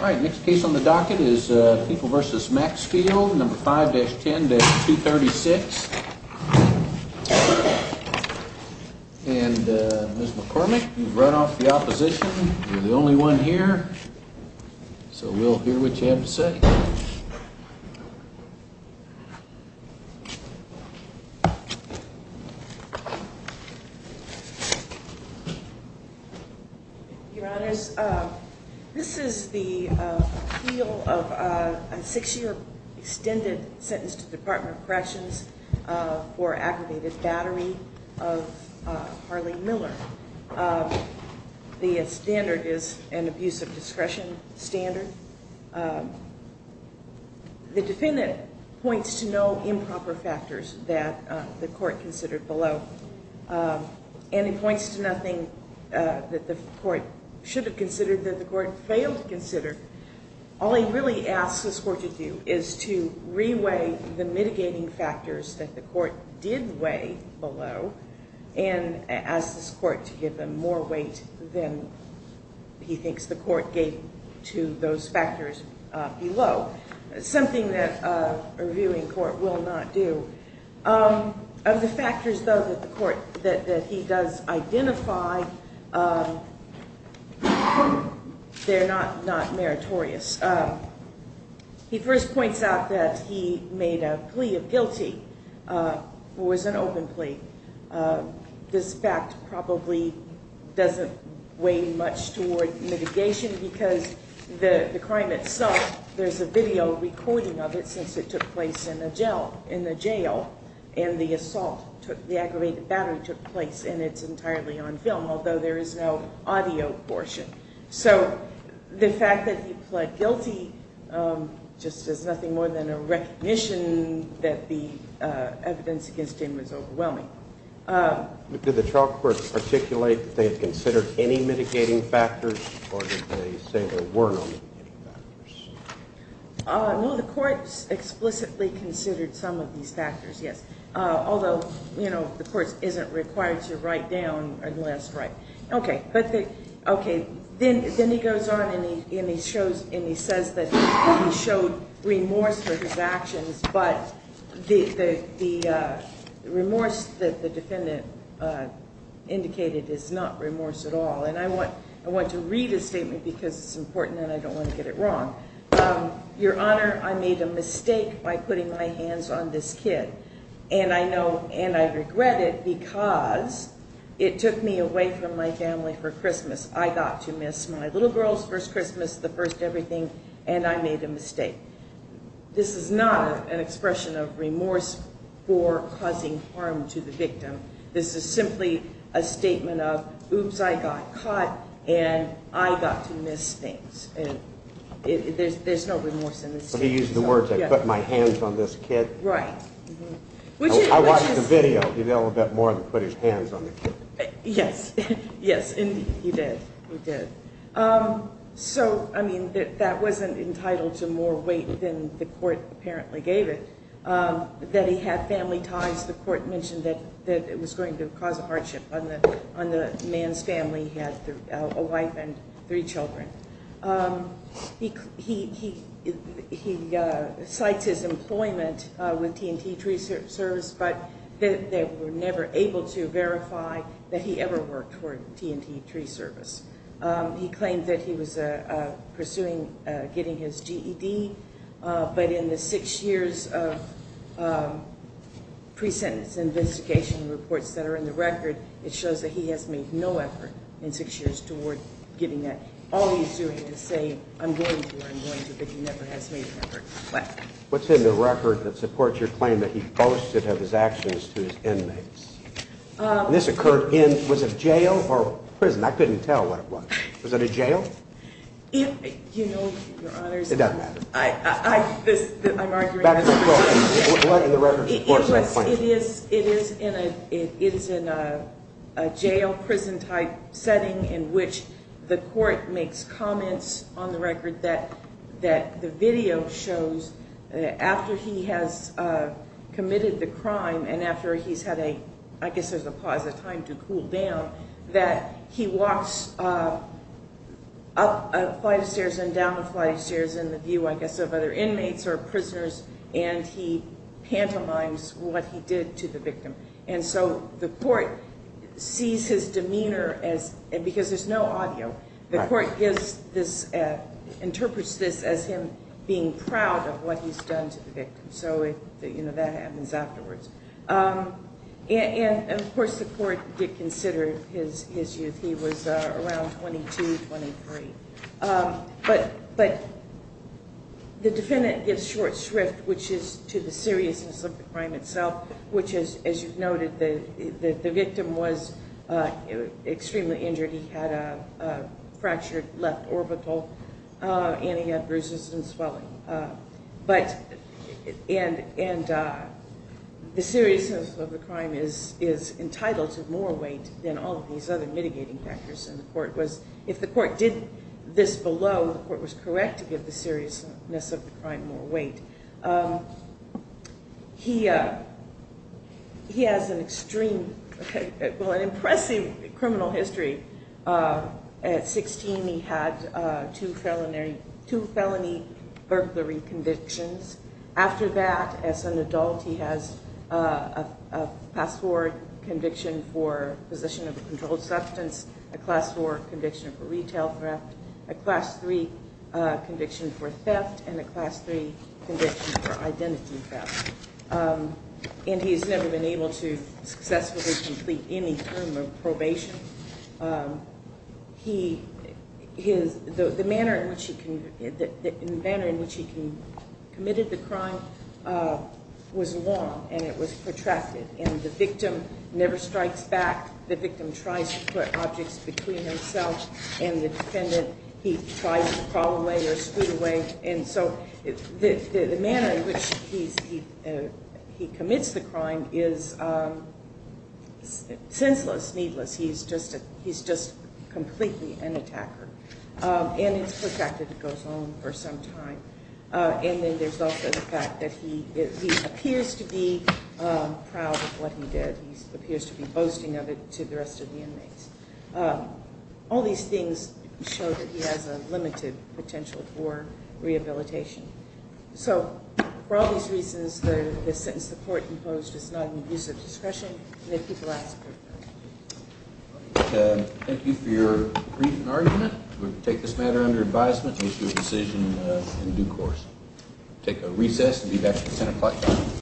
All right, next case on the docket is People v. Maxfield, number 5-10-236. And Ms. McCormick, you've run off the opposition. You're the only one here, so we'll hear what you have to say. Your Honors, this is the appeal of a six-year extended sentence to the Department of Corrections for aggravated battery of Harley Miller. The standard is an abuse of discretion standard. The defendant points to no improper factors that the court considered below, and he points to nothing that the court should have considered that the court failed to consider. All he really asked this court to do is to re-weigh the mitigating factors that the court did weigh below and asked this court to give them more weight than he thinks the court gave to those factors below, something that a reviewing court will not do. Of the factors, though, that the court, that he does identify, they're not meritorious. He first points out that he made a plea of guilty. It was an open plea. This fact probably doesn't weigh much toward mitigation because the crime itself, there's a video recording of it since it took place in a jail, and the assault, the aggravated battery took place, and it's entirely on film, although there is no audio portion. So the fact that he pled guilty just is nothing more than a recognition that the evidence against him was overwhelming. Did the trial court articulate that they had considered any mitigating factors, or did they say there were no mitigating factors? No, the court explicitly considered some of these factors, yes, although, you know, the court isn't required to write down unless, right, okay, but they, okay, then he goes on and he says that he showed remorse for his actions, but the remorse that the defendant indicated is not remorse at all, and I want to read his statement because it's important, and I don't want to get it wrong. Your Honor, I made a mistake by putting my hands on this kid, and I know, and I regret it because it took me away from my family for Christmas. I got to miss my little girl's first Christmas, the first everything, and I made a mistake. This is not an expression of remorse for causing harm to the victim. This is simply a statement of, oops, I got caught, and I got to miss things, and there's no remorse in this case. But he used the words, I put my hands on this kid. Right. I watched the video. He did a little bit more than put his hands on the kid. Yes, yes, indeed, he did. He did. So, I mean, that wasn't entitled to more weight than the court apparently gave it, that he had family ties. The court mentioned that it was going to cause a hardship on the man's family. He had a wife and three children. He cites his employment with T&T Tree Service, but they were never able to verify that he ever worked for T&T Tree Service. He claimed that he was pursuing getting his GED, but in the six years of pre-sentence investigation reports that are in the record, it shows that he has made no effort in six years toward getting that. All he's doing is saying, I'm going to, I'm going to, but he never has made an effort. What's in the record that supports your claim that he boasted of his actions to his inmates? And this occurred in, was it jail or prison? I couldn't tell what it was. Was it a jail? You know, your honors, I'm arguing, it is in a jail prison type setting in the court makes comments on the record that the video shows after he has committed the crime and after he's had a, I guess there's a pause, a time to cool down, that he walks up a flight of stairs and down a flight of stairs in the view, I guess, of other inmates or prisoners, and he pantomimes what he did to the victim. And so the court sees his demeanor as, because there's no audio, the court gives this, interprets this as him being proud of what he's done to the victim. So that happens afterwards. And of course the court did consider his youth. He was around 22, 23. But the defendant gives short shrift, which is to the seriousness of the crime itself, which is, as you've noted, the victim was extremely injured. He had a fractured left orbital and he had bruises and swelling. But, and the seriousness of the crime is entitled to more weight than all of these other mitigating factors. And the court was, if the court did this below, the court was correct to give the seriousness of the crime more weight. He, he has an extreme, well, an impressive criminal history. At 16, he had two felony, two felony burglary convictions. After that, as an adult, he has a pass forward conviction for possession of a controlled substance, a class four conviction for retail theft, a class three conviction for theft, and a class three conviction for identity theft. And he's never been able to successfully complete any term of probation. He, his, the manner in which he, the manner in which he committed the crime was long and it was protracted. And the victim never strikes back. The victim tries to put objects between himself and the defendant. He tries to crawl away or scoot away. And so the manner in which he's, he commits the crime is senseless, needless. He's just a, completely an attacker. And it's protracted, it goes on for some time. And then there's also the fact that he, he appears to be proud of what he did. He appears to be boasting of it to the rest of the inmates. All these things show that he has a limited potential for rehabilitation. So for all these reasons, the sentence the court imposed is not in use of discretion. Thank you for your brief argument. We'll take this matter under advisement and issue a decision in due course. We'll take a recess and be back at 10 o'clock.